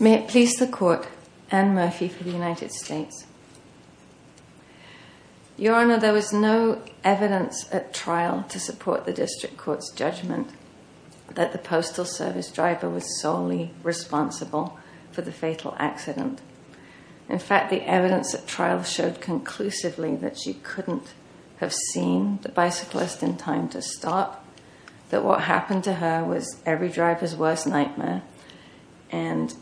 May it please the Court, Anne Murphy v. United States Your Honor, there was no evidence at trial to support the District Court's judgment that the Postal Service driver was solely responsible for the fatal accident. In fact, the evidence at trial showed conclusively that she couldn't have seen the bicyclist in time to stop, that what happened to her was every driver's worst nightmare, and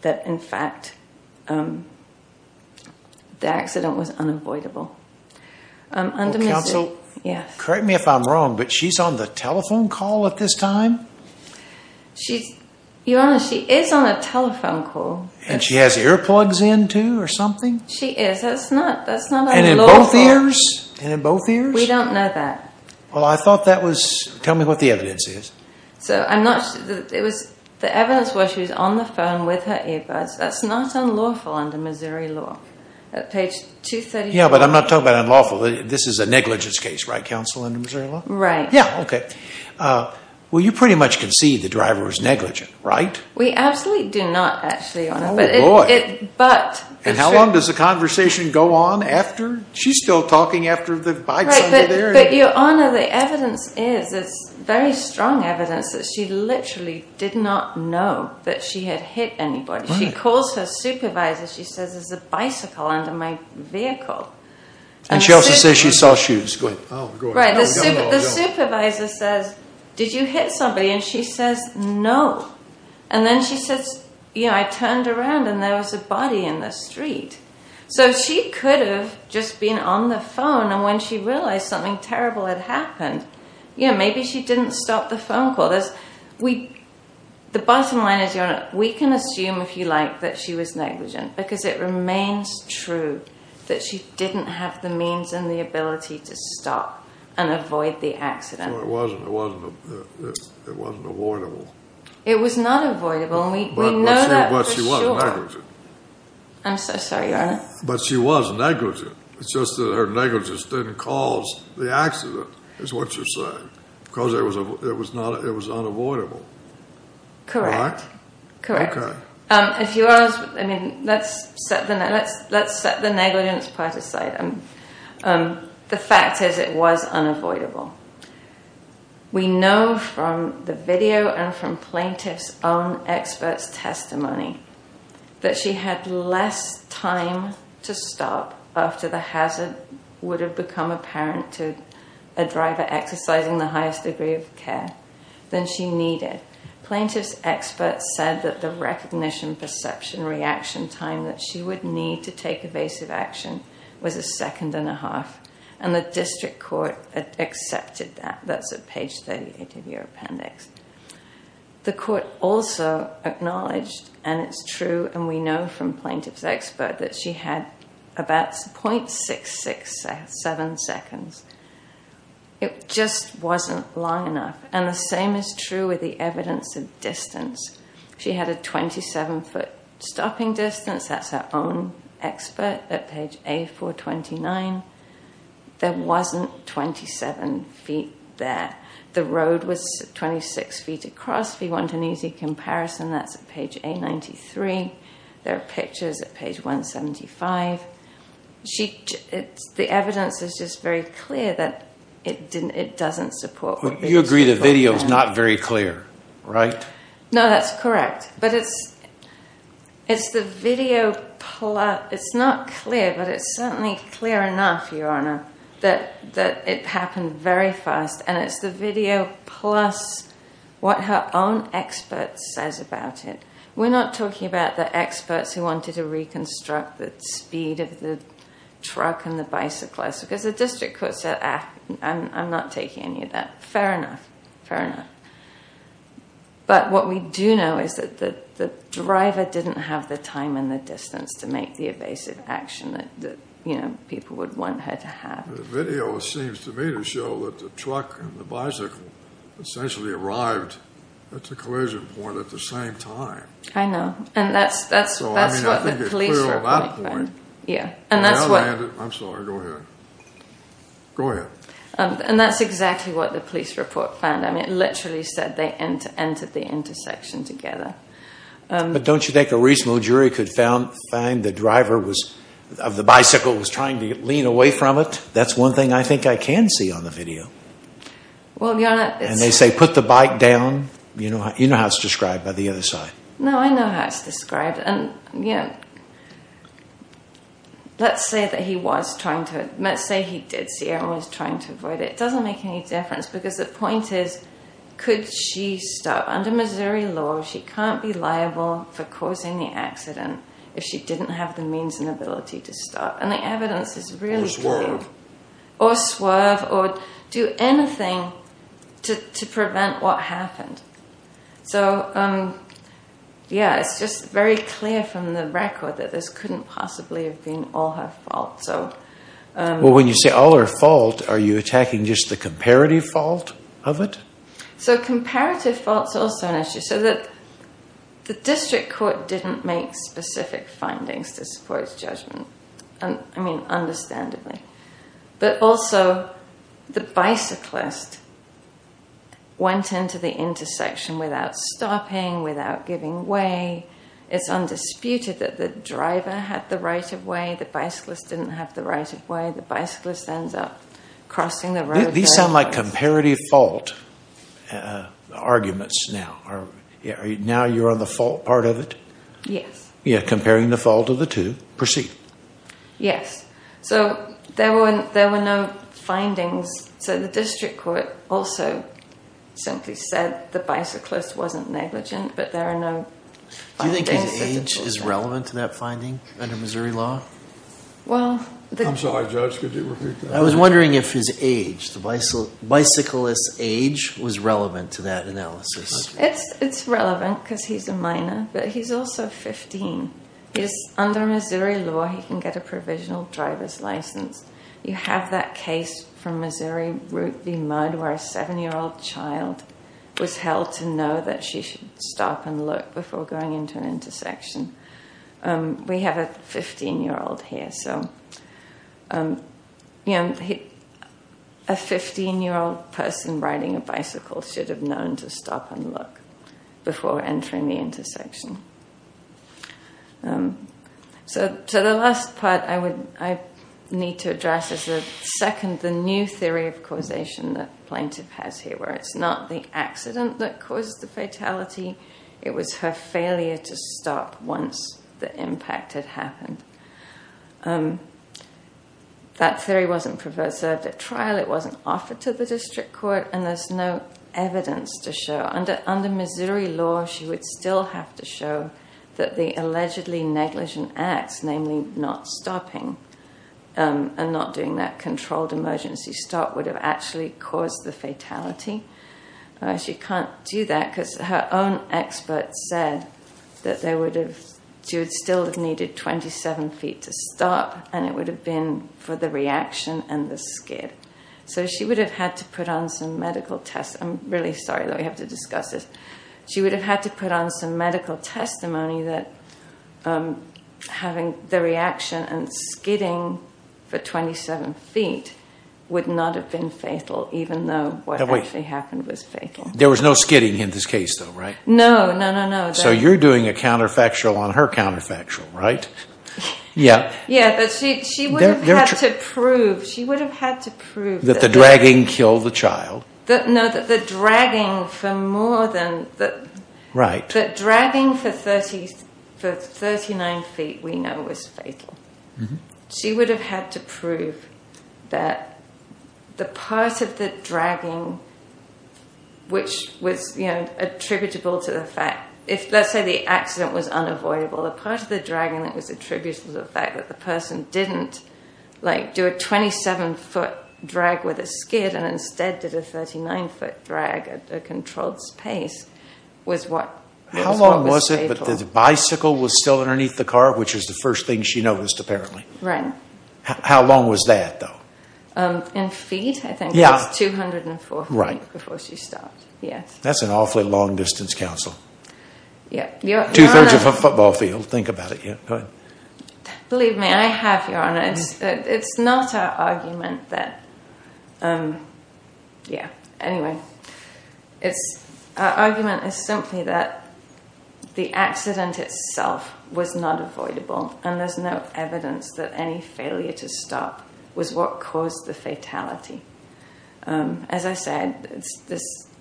that in fact, the accident was unavoidable. Well, Counsel, correct me if I'm wrong, but she's on the telephone call at this time? Your Honor, she is on a telephone call. And she has earplugs in, too, or something? She is. That's not unlawful. And in both ears? We don't know that. Tell me what the evidence is. The evidence was that she was on the phone with her earplugs. That's not unlawful under Missouri law, at page 234. Yeah, but I'm not talking about unlawful. This is a negligence case, right, Counsel, under Missouri law? Right. Well, you pretty much concede the driver was negligent, right? We absolutely do not, actually, Your Honor. Oh, boy. And how long does the conversation go on after? She's still talking after the bikes under there. Right, but Your Honor, the evidence is, it's very strong evidence that she literally did not know that she had hit anybody. She calls her supervisor, she says, there's a bicycle under my vehicle. And she also says she saw shoes. Go ahead. Right, the supervisor says, did you hit somebody? And she says, no. And then she says, you know, I turned around and there was a body in the street. So she could have just been on the phone, and when she realized something terrible had happened, you know, maybe she didn't stop the phone call. The bottom line is, Your Honor, we can assume, if you like, that she was negligent, because it remains true that she didn't have the means and the ability to stop and avoid the accident. No, it wasn't. It wasn't avoidable. It was not avoidable, and we know that for sure. But she was negligent. I'm so sorry, Your Honor. But she was negligent. It's just that her negligence didn't cause the accident, is what you're saying. Because it was unavoidable. Correct. Right? Correct. Okay. Let's set the negligence part aside. The fact is, it was unavoidable. We know from the video and from plaintiff's own expert's testimony that she had less time to stop after the hazard would have become apparent to a driver exercising the highest degree of care than she needed. Plaintiff's expert said that the recognition perception reaction time that she would need to take evasive action was a second and a half, and the district court accepted that. That's at page 38 of your appendix. The court also acknowledged, and it's true and we know from plaintiff's expert, that she had about 0.667 seconds. It just wasn't long enough. And the same is true with the evidence of distance. She had a 27-foot stopping distance. That's her own expert at page A-429. There wasn't 27 feet there. The road was 26 feet across. If you want an easy comparison, that's at page A-93. There are pictures at page 175. The evidence is just very clear that it doesn't support... You agree the video's not very clear, right? No, that's correct, but it's the video plus... It's not clear, but it's certainly clear enough, Your Honor, that it happened very fast, and it's the video plus what her own expert says about it. We're not talking about the experts who wanted to reconstruct the speed of the truck and the bicyclist because the district court said, I'm not taking any of that. Fair enough. But what we do know is that the driver didn't have the time and the distance to make the evasive action that people would want her to have. The video seems to me to show that the truck and the bicycle essentially arrived at the collision point at the same time. I know. And that's what the police report found. I'm sorry, go ahead. Go ahead. And that's exactly what the police report found. It literally said they entered the intersection together. But don't you think a reasonable jury could find the driver of the bicycle was trying to lean away from it? That's one thing I think I can see on the video. And they say, put the bike down. You know how it's described by the other side. No, I know how it's described. Let's say he did see her and was trying to avoid it. It doesn't make any difference. Because the point is, could she stop? Under Missouri law, she can't be liable for causing the accident if she didn't have the means and ability to stop. And the evidence is really clear. Or swerve. Or do anything to prevent what happened. So, yeah. It's just very clear from the record that this couldn't possibly have been all her fault. Well, when you say all her fault, are you attacking just the comparative fault of it? So comparative fault is also an issue. The district court didn't make specific findings to support its judgment. I mean, understandably. But also, the bicyclist went into the intersection without stopping, without giving way. It's undisputed that the driver had the right of way. The bicyclist didn't have the right of way. The bicyclist ends up crossing the road. These sound like comparative fault arguments now. Now you're on the fault part of it? Yes. Yes. So there were no findings. So the district court also simply said the bicyclist wasn't negligent. Do you think his age is relevant to that finding? Under Missouri law? I was wondering if his age, the bicyclist's age was relevant to that analysis. It's relevant because he's a minor, but he's also 15. Under Missouri law, he can get a provisional driver's license. You have that case from Missouri Route v. Mudd where a 7-year-old child was held to know that she should stop and look before going into an intersection. We have a 15-year-old here. A 15-year-old person riding a bicycle should have known to stop and look before entering the intersection. So the last part I need to address is the new theory of causation that the plaintiff has here where it's not the accident that caused the fatality. It was her failure to stop once the impact had happened. That theory wasn't served at trial. It wasn't offered to the district court and there's no evidence to show. Under Missouri law, she would still have to show that the allegedly negligent acts, namely not stopping and not doing that controlled emergency stop would have actually caused the fatality. She can't do that because her own expert said that she would still have needed 27 feet to stop and it would have been for the reaction and the skid. So she would have had to put on some medical test. I'm really sorry that we have to discuss this. She would have had to put on some medical testimony that having the reaction and skidding for 27 feet would not have been fatal even though what actually happened was fatal. There was no skidding in this case though, right? No, no, no. So you're doing a counterfactual on her counterfactual, right? Yeah. She would have had to prove that the dragging for 39 feet we know was fatal. She would have had to prove that the part of the dragging which was attributable to the fact that if let's say the accident was unavoidable the part of the dragging that was attributable to the fact that the person didn't do a 27 foot drag with a skid and instead did a 39 foot drag at a controlled pace was what was fatal. How long was it that the bicycle was still underneath the car which is the first thing she noticed apparently? How long was that though? In feet I think it was 204 feet before she stopped. That's an awfully long distance counsel. Two thirds of a football field, think about it. Believe me, I have Your Honor. It's not our argument that yeah, anyway our argument is simply that the accident itself was not avoidable and there's no evidence that any failure to stop was what caused the fatality. As I said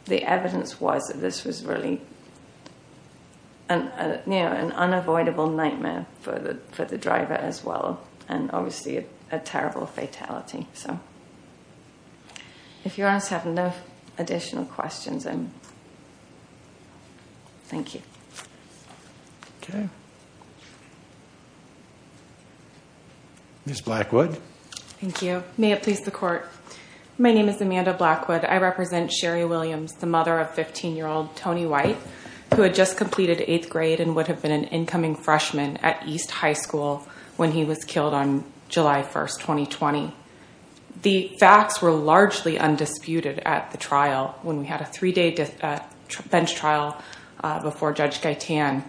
the evidence was that this was really an unavoidable nightmare for the driver as well and obviously a terrible fatality. If Your Honor has no additional questions thank you. Ms. Blackwood. Thank you. May it please the court. My name is Amanda Blackwood. I represent Sherry Williams the mother of 15 year old Tony White who had just completed 8th grade and would have been an incoming freshman at East High School when he was killed on July 1, 2020. The facts were largely undisputed at the trial when we had a three day bench trial before Judge Gaitan.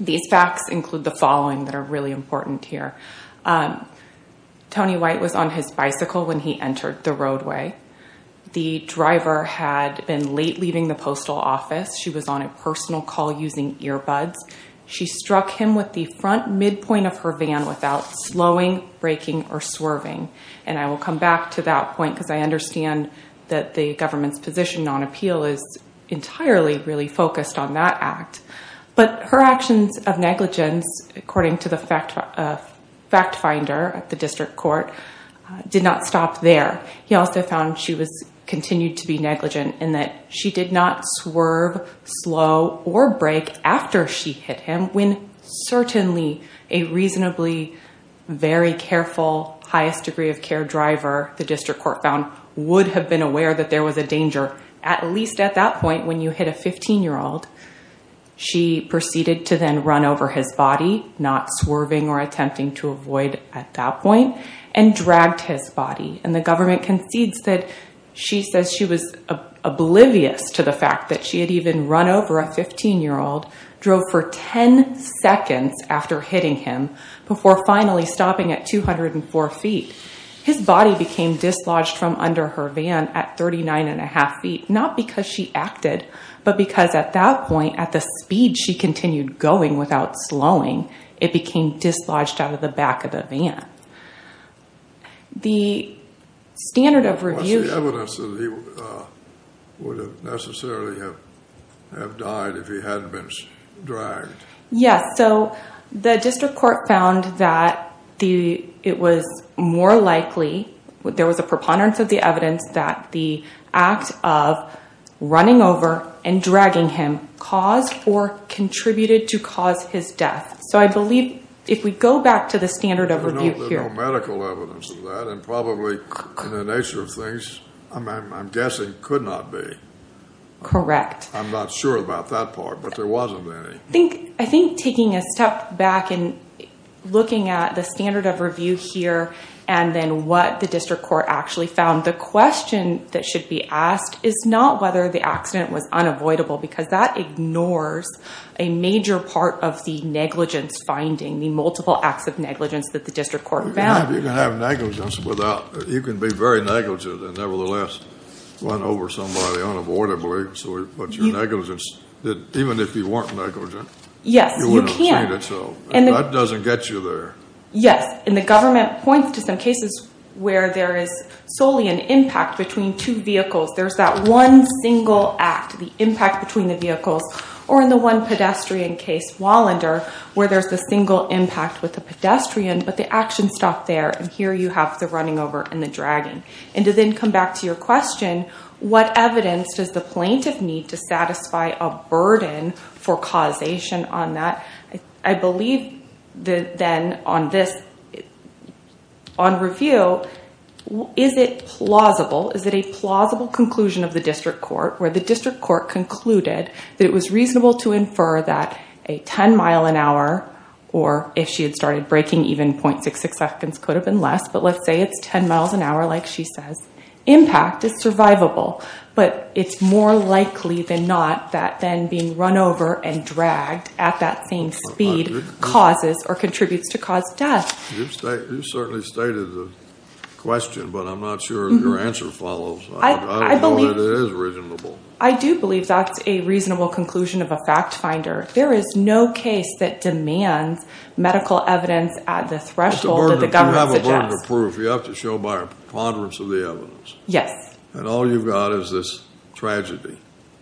These facts include the following that are really important here. Tony White was on his bicycle when he entered the roadway. The driver had been late leaving the postal office. She was on a personal call using earbuds. She struck him with the front midpoint of her van without slowing, braking or swerving. I will come back to that point because I understand that the government's position on appeal is entirely focused on that act. Her actions of negligence according to the fact finder did not stop there. He also found she continued to be negligent in that she did not swerve, slow or brake after she hit him when certainly a reasonably very careful highest degree of care driver would have been aware that there was a danger at least at that point when you hit a 15 year old she proceeded to then run over his body not swerving or attempting to avoid at that point and dragged his body. The government concedes that she was oblivious to the fact that she had even run over a 15 year old, drove for 10 seconds after hitting him before finally stopping at 204 feet. His body became dislodged from under her van at 39.5 feet not because she acted but because at that point at the speed she continued going without slowing it became dislodged out of the back of the van. The standard of review What's the evidence that he would have necessarily have died if he hadn't been dragged? The district court found that it was more likely there was a preponderance of the evidence that the act of running over and dragging him caused or contributed to cause his death. So I believe if we go back to the standard of review There's no medical evidence of that and probably in the nature of things I'm guessing could not be. Correct. I'm not sure about that part but there wasn't any. I think taking a step back and looking at the standard of review here and then what the district court actually found the question that should be asked is not whether the accident was unavoidable because that ignores a major part of the negligence finding the multiple acts of negligence that the district court found. You can be very negligent and nevertheless run over somebody unavoidably Even if you weren't negligent you wouldn't have seen it so that doesn't get you there. Yes, and the government points to some cases where there is solely an impact between two vehicles. There's that one single act, the impact between the vehicles or in the one pedestrian case, Wallander where there's a single impact with the pedestrian but the action stopped there and here you have the running over and the dragging. And to then come back to your question what evidence does the plaintiff need to satisfy a burden for causation on that? I believe then on this on review is it plausible? Is it a plausible conclusion of the district court where the district court concluded that it was reasonable to infer that a 10 mile an hour or if she had started braking even 0.66 seconds could have been less but let's say it's 10 miles an hour like she says impact is survivable but it's more likely than not that then being run over and dragged at that same speed causes or contributes to cause death. You certainly stated the question but I'm not sure your answer follows. I do believe that's a reasonable conclusion of a fact finder There is no case that demands medical evidence at the threshold that the government suggests. You have a burden of proof. You have to show by a preponderance of the evidence. Yes. And all you've got is this tragedy.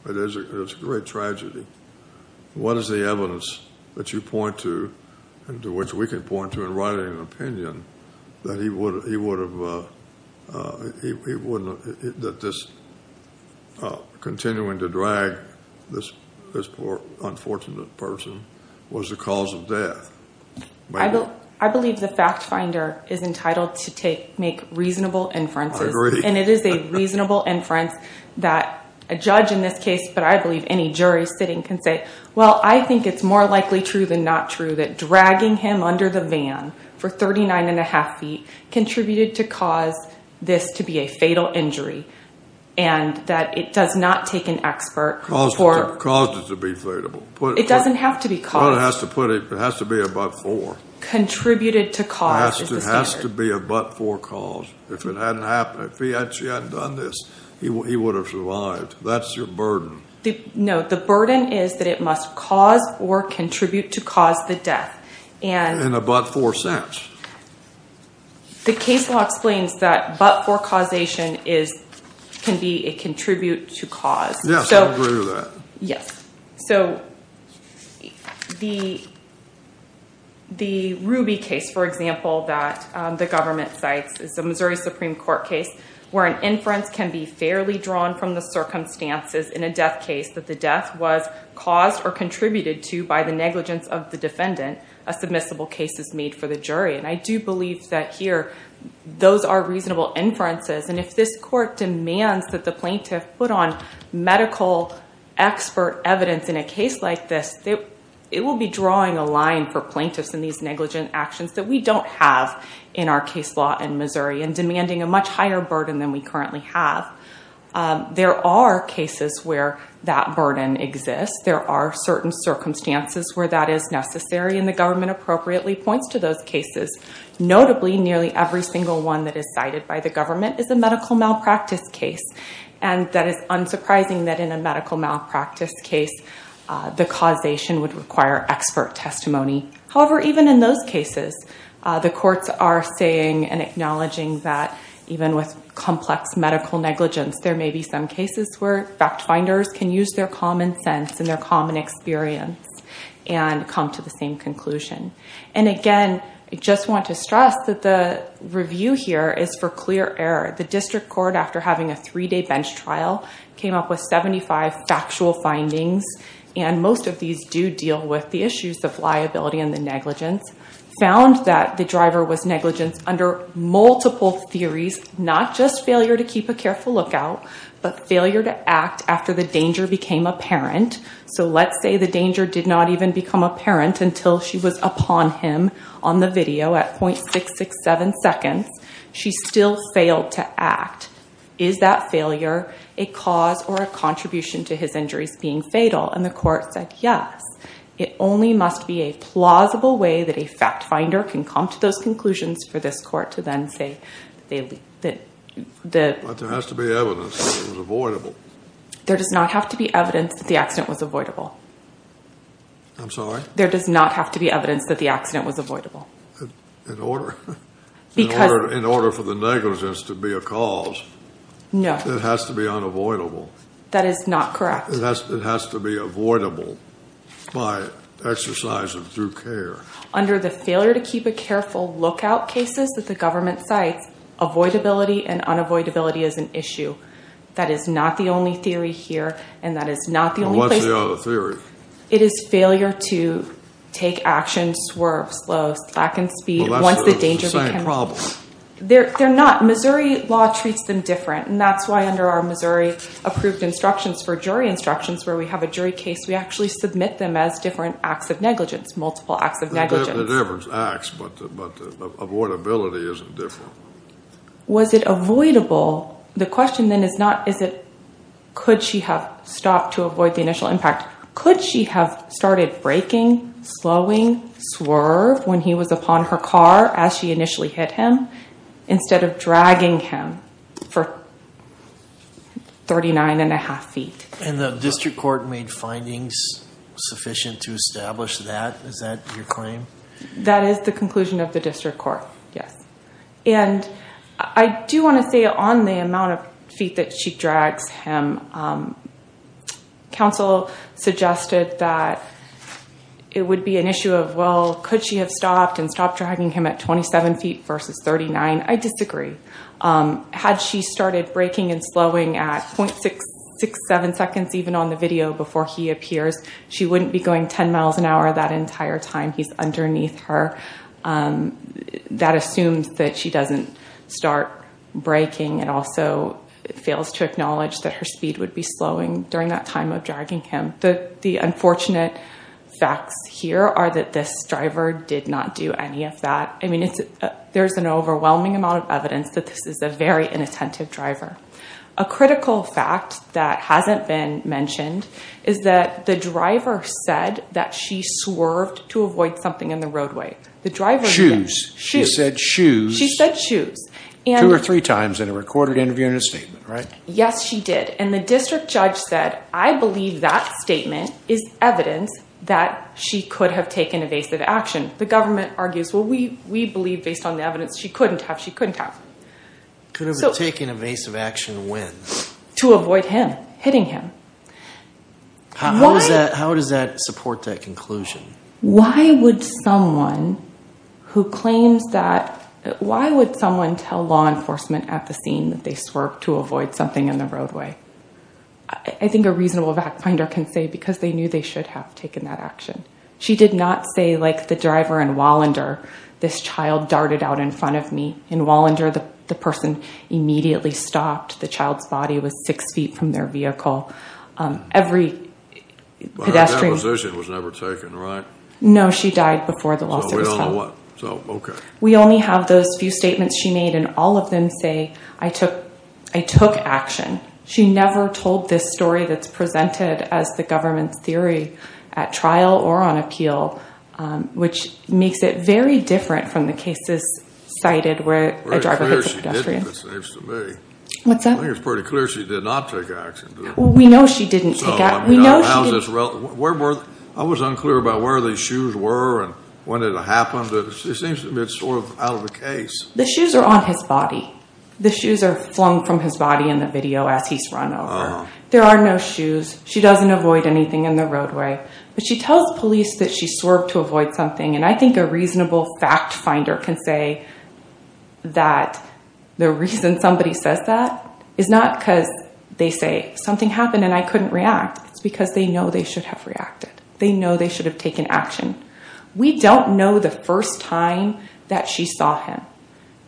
It's a great tragedy. What is the evidence that you point to and to which we can point to in writing an opinion that he would have that this continuing to drag this poor unfortunate person was the cause of death? I believe the fact finder is entitled to make reasonable inferences and it is a reasonable inference that a judge in this case but I believe any jury sitting can say well I think it's more likely true than not true that dragging him under the van for 39 and a half feet contributed to cause this to be a fatal injury and that it does not take an expert Caused it to be fatal. It doesn't have to be caused. Contributed to cause is the standard. It has to be a but-for cause. If he hadn't done this, he would have survived. That's your burden. No, the burden is that it must cause or contribute to cause the death. In a but-for sense? The case law explains that but-for causation can be a contribute to cause. Yes, I agree with that. The Ruby case for example that the government cites is a Missouri Supreme Court case where an inference can be fairly drawn from the circumstances in a death case that the death was caused or contributed to by the negligence of the defendant a submissible case is made for the jury and I do believe that here those are reasonable inferences and if this court demands that the plaintiff put on medical expert evidence in a case like this it will be drawing a line for plaintiffs in these negligent actions that we don't have in our case law in Missouri and demanding a much higher burden than we currently have There are cases where that burden exists there are certain circumstances where that is necessary and the government appropriately points to those cases Notably, nearly every single one that is cited by the government is a medical malpractice case and that is unsurprising that in a medical malpractice case the causation would require expert testimony However, even in those cases the courts are saying and acknowledging that even with complex medical negligence there may be some cases where fact finders can use their common sense and experience and come to the same conclusion I just want to stress that the review here is for clear error. The district court after having a 3 day bench trial came up with 75 factual findings and most of these do deal with the issues of liability and negligence found that the driver was negligent under multiple theories not just failure to keep a careful lookout but failure to act after the danger became apparent so let's say the danger did not even become apparent until she was upon him on the video at .667 seconds. She still failed to act Is that failure a cause or a contribution to his injuries being fatal? and the court said yes It only must be a plausible way that a fact finder can come to those conclusions for this court to then say But there has to be evidence that it was avoidable There does not have to be evidence that the accident was avoidable There does not have to be evidence that the accident was avoidable In order for the negligence to be a cause it has to be unavoidable It has to be avoidable by exercise of due care Under the failure to keep a careful lookout cases that the government cites, avoidability and unavoidability is an issue. That is not the only theory here What's the other theory? It is failure to take action, swerve slow, slack in speed Missouri law treats them different and that's why under our Missouri approved instructions for jury instructions where we have a jury case we actually submit them as different acts of negligence Multiple acts of negligence But the avoidability is different Was it avoidable? Could she have stopped to avoid the initial impact? Could she have started braking, slowing, swerve when he was upon her car as she initially hit him instead of dragging him for 39.5 feet And the district court made findings sufficient to establish that? Is that your claim? That is the conclusion of the district court And I do want to say on the amount of feet that she drags him counsel suggested that it would be an issue of could she have stopped and stopped dragging him at 27 feet versus 39? I disagree Had she started braking and slowing at .67 seconds even on the video before he appears she wouldn't be going 10 miles an hour that entire time he's underneath her That assumes that she doesn't start braking and also fails to acknowledge that her speed would be slowing during that time of dragging him The unfortunate facts here are that this driver did not do any of that There's an overwhelming amount of evidence that this is a very inattentive driver A critical fact that hasn't been mentioned is that the driver said that she swerved to avoid something in the roadway She said shoes Two or three times in a recorded interview and statement Yes she did And the district judge said I believe that statement is evidence that she could have taken evasive action The government argues Could have taken evasive action when? To avoid him How does that support that conclusion? Why would someone tell law enforcement at the scene that they swerved to avoid something in the roadway I think a reasonable fact finder can say because they knew they should have taken that action She did not say like the driver in Wallander This child darted out in front of me In Wallander the person immediately stopped The child's body was 6 feet from their vehicle But her position was never taken right? No she died before the lawsuit was filed We only have those few statements she made and all of them say I took action She never told this story that's presented as the government's theory at trial or on appeal Which makes it very different from the cases cited where a driver hits a pedestrian I think it's pretty clear she did not take action We know she didn't I was unclear about where the shoes were and when it happened It seems to me it's sort of out of the case The shoes are on his body The shoes are flung from his body in the video as he's run over There are no shoes She doesn't avoid anything in the roadway But she tells police that she swerved to avoid something And I think a reasonable fact finder can say that the reason somebody says that is not because they say something happened and I couldn't react It's because they know they should have reacted They know they should have taken action We don't know the first time that she saw him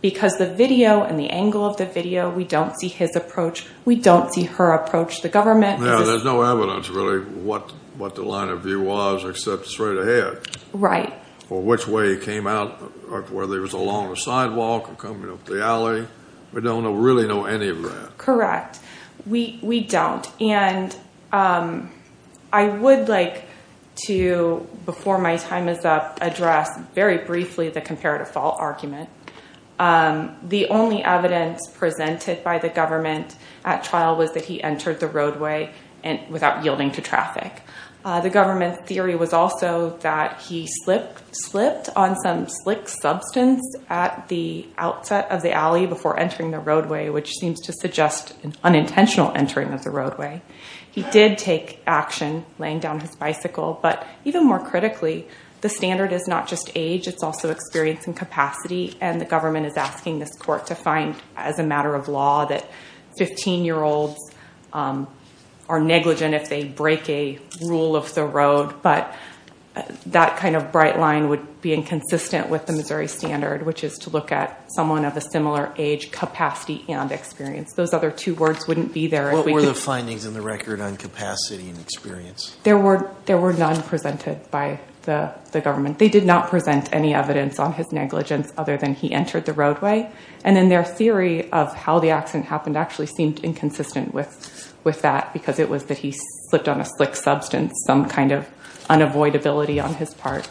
Because the video and the angle of the video We don't see his approach We don't see her approach There's no evidence what the line of view was except straight ahead Or which way he came out Whether it was along the sidewalk or coming up the alley We don't really know any of that We don't I would like to, before my time is up address very briefly the comparative fault argument The only evidence presented by the government at trial was that he entered the roadway without yielding to traffic The government theory was also that he slipped on some slick substance at the outset of the alley before entering the roadway which seems to suggest an unintentional entering of the roadway He did take action laying down his bicycle But even more critically, the standard is not just age It's also experience and capacity The government is asking this court to find as a matter of law that 15 year olds are negligent if they break a rule of the road That kind of bright line would be inconsistent with the Missouri standard which is to look at someone of a similar age, capacity and experience What were the findings in the record on capacity and experience? There were none presented by the government They did not present any evidence on his negligence other than he entered the roadway Their theory of how the accident happened seemed inconsistent because it was that he slipped on a slick substance some kind of unavoidability on his part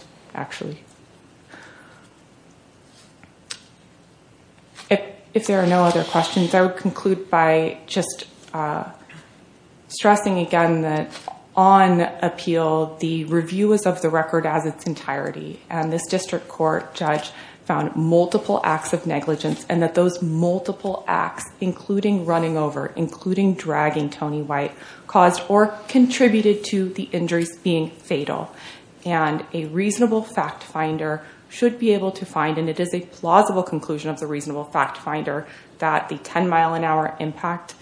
If there are no other questions I would conclude by stressing again that on appeal the review was of the record as its entirety This district court judge found multiple acts of negligence and that those multiple acts including running over and dragging Tony White contributed to the injuries being fatal A reasonable fact finder should be able to find and it is a plausible conclusion that the 10 mile an hour impact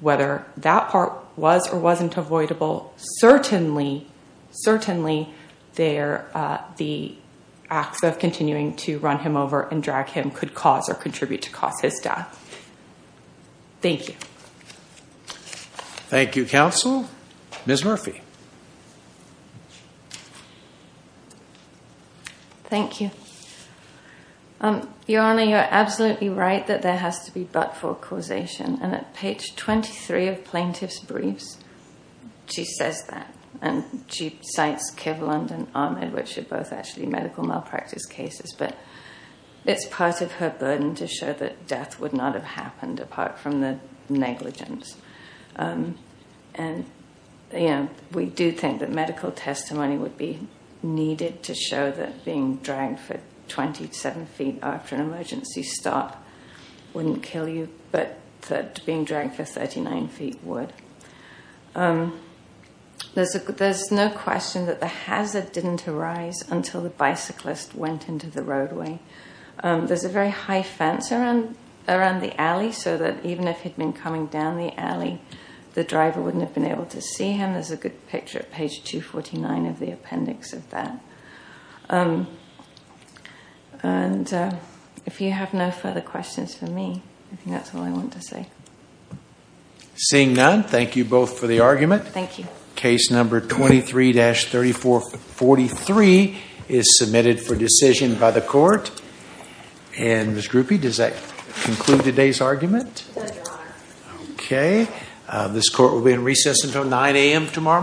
whether that part was or wasn't avoidable certainly the acts of continuing to run him over and drag him could cause or contribute to cause his death Your Honor, you are absolutely right that there has to be but for causation and at page 23 of plaintiff's briefs she says that and she cites Kivlund and Ahmed which are both actually medical malpractice cases but it's part of her burden to show that death would not have happened apart from the negligence We do think that medical testimony would be needed to show that being dragged for 27 feet after an emergency stop wouldn't kill you but that being dragged for 39 feet would There's no question that the hazard didn't arise until the bicyclist went into the roadway There's a very high fence around the alley so that even if he'd been coming down the alley the driver wouldn't have been able to see him There's a good picture at page 249 of the appendix of that If you have no further questions for me I think that's all I want to say Seeing none, thank you both for the argument Case number 23-3443 is submitted for decision by the court Ms. Grupe, does that conclude today's argument? It does, Your Honor This court will be in recess until 9 a.m. tomorrow morning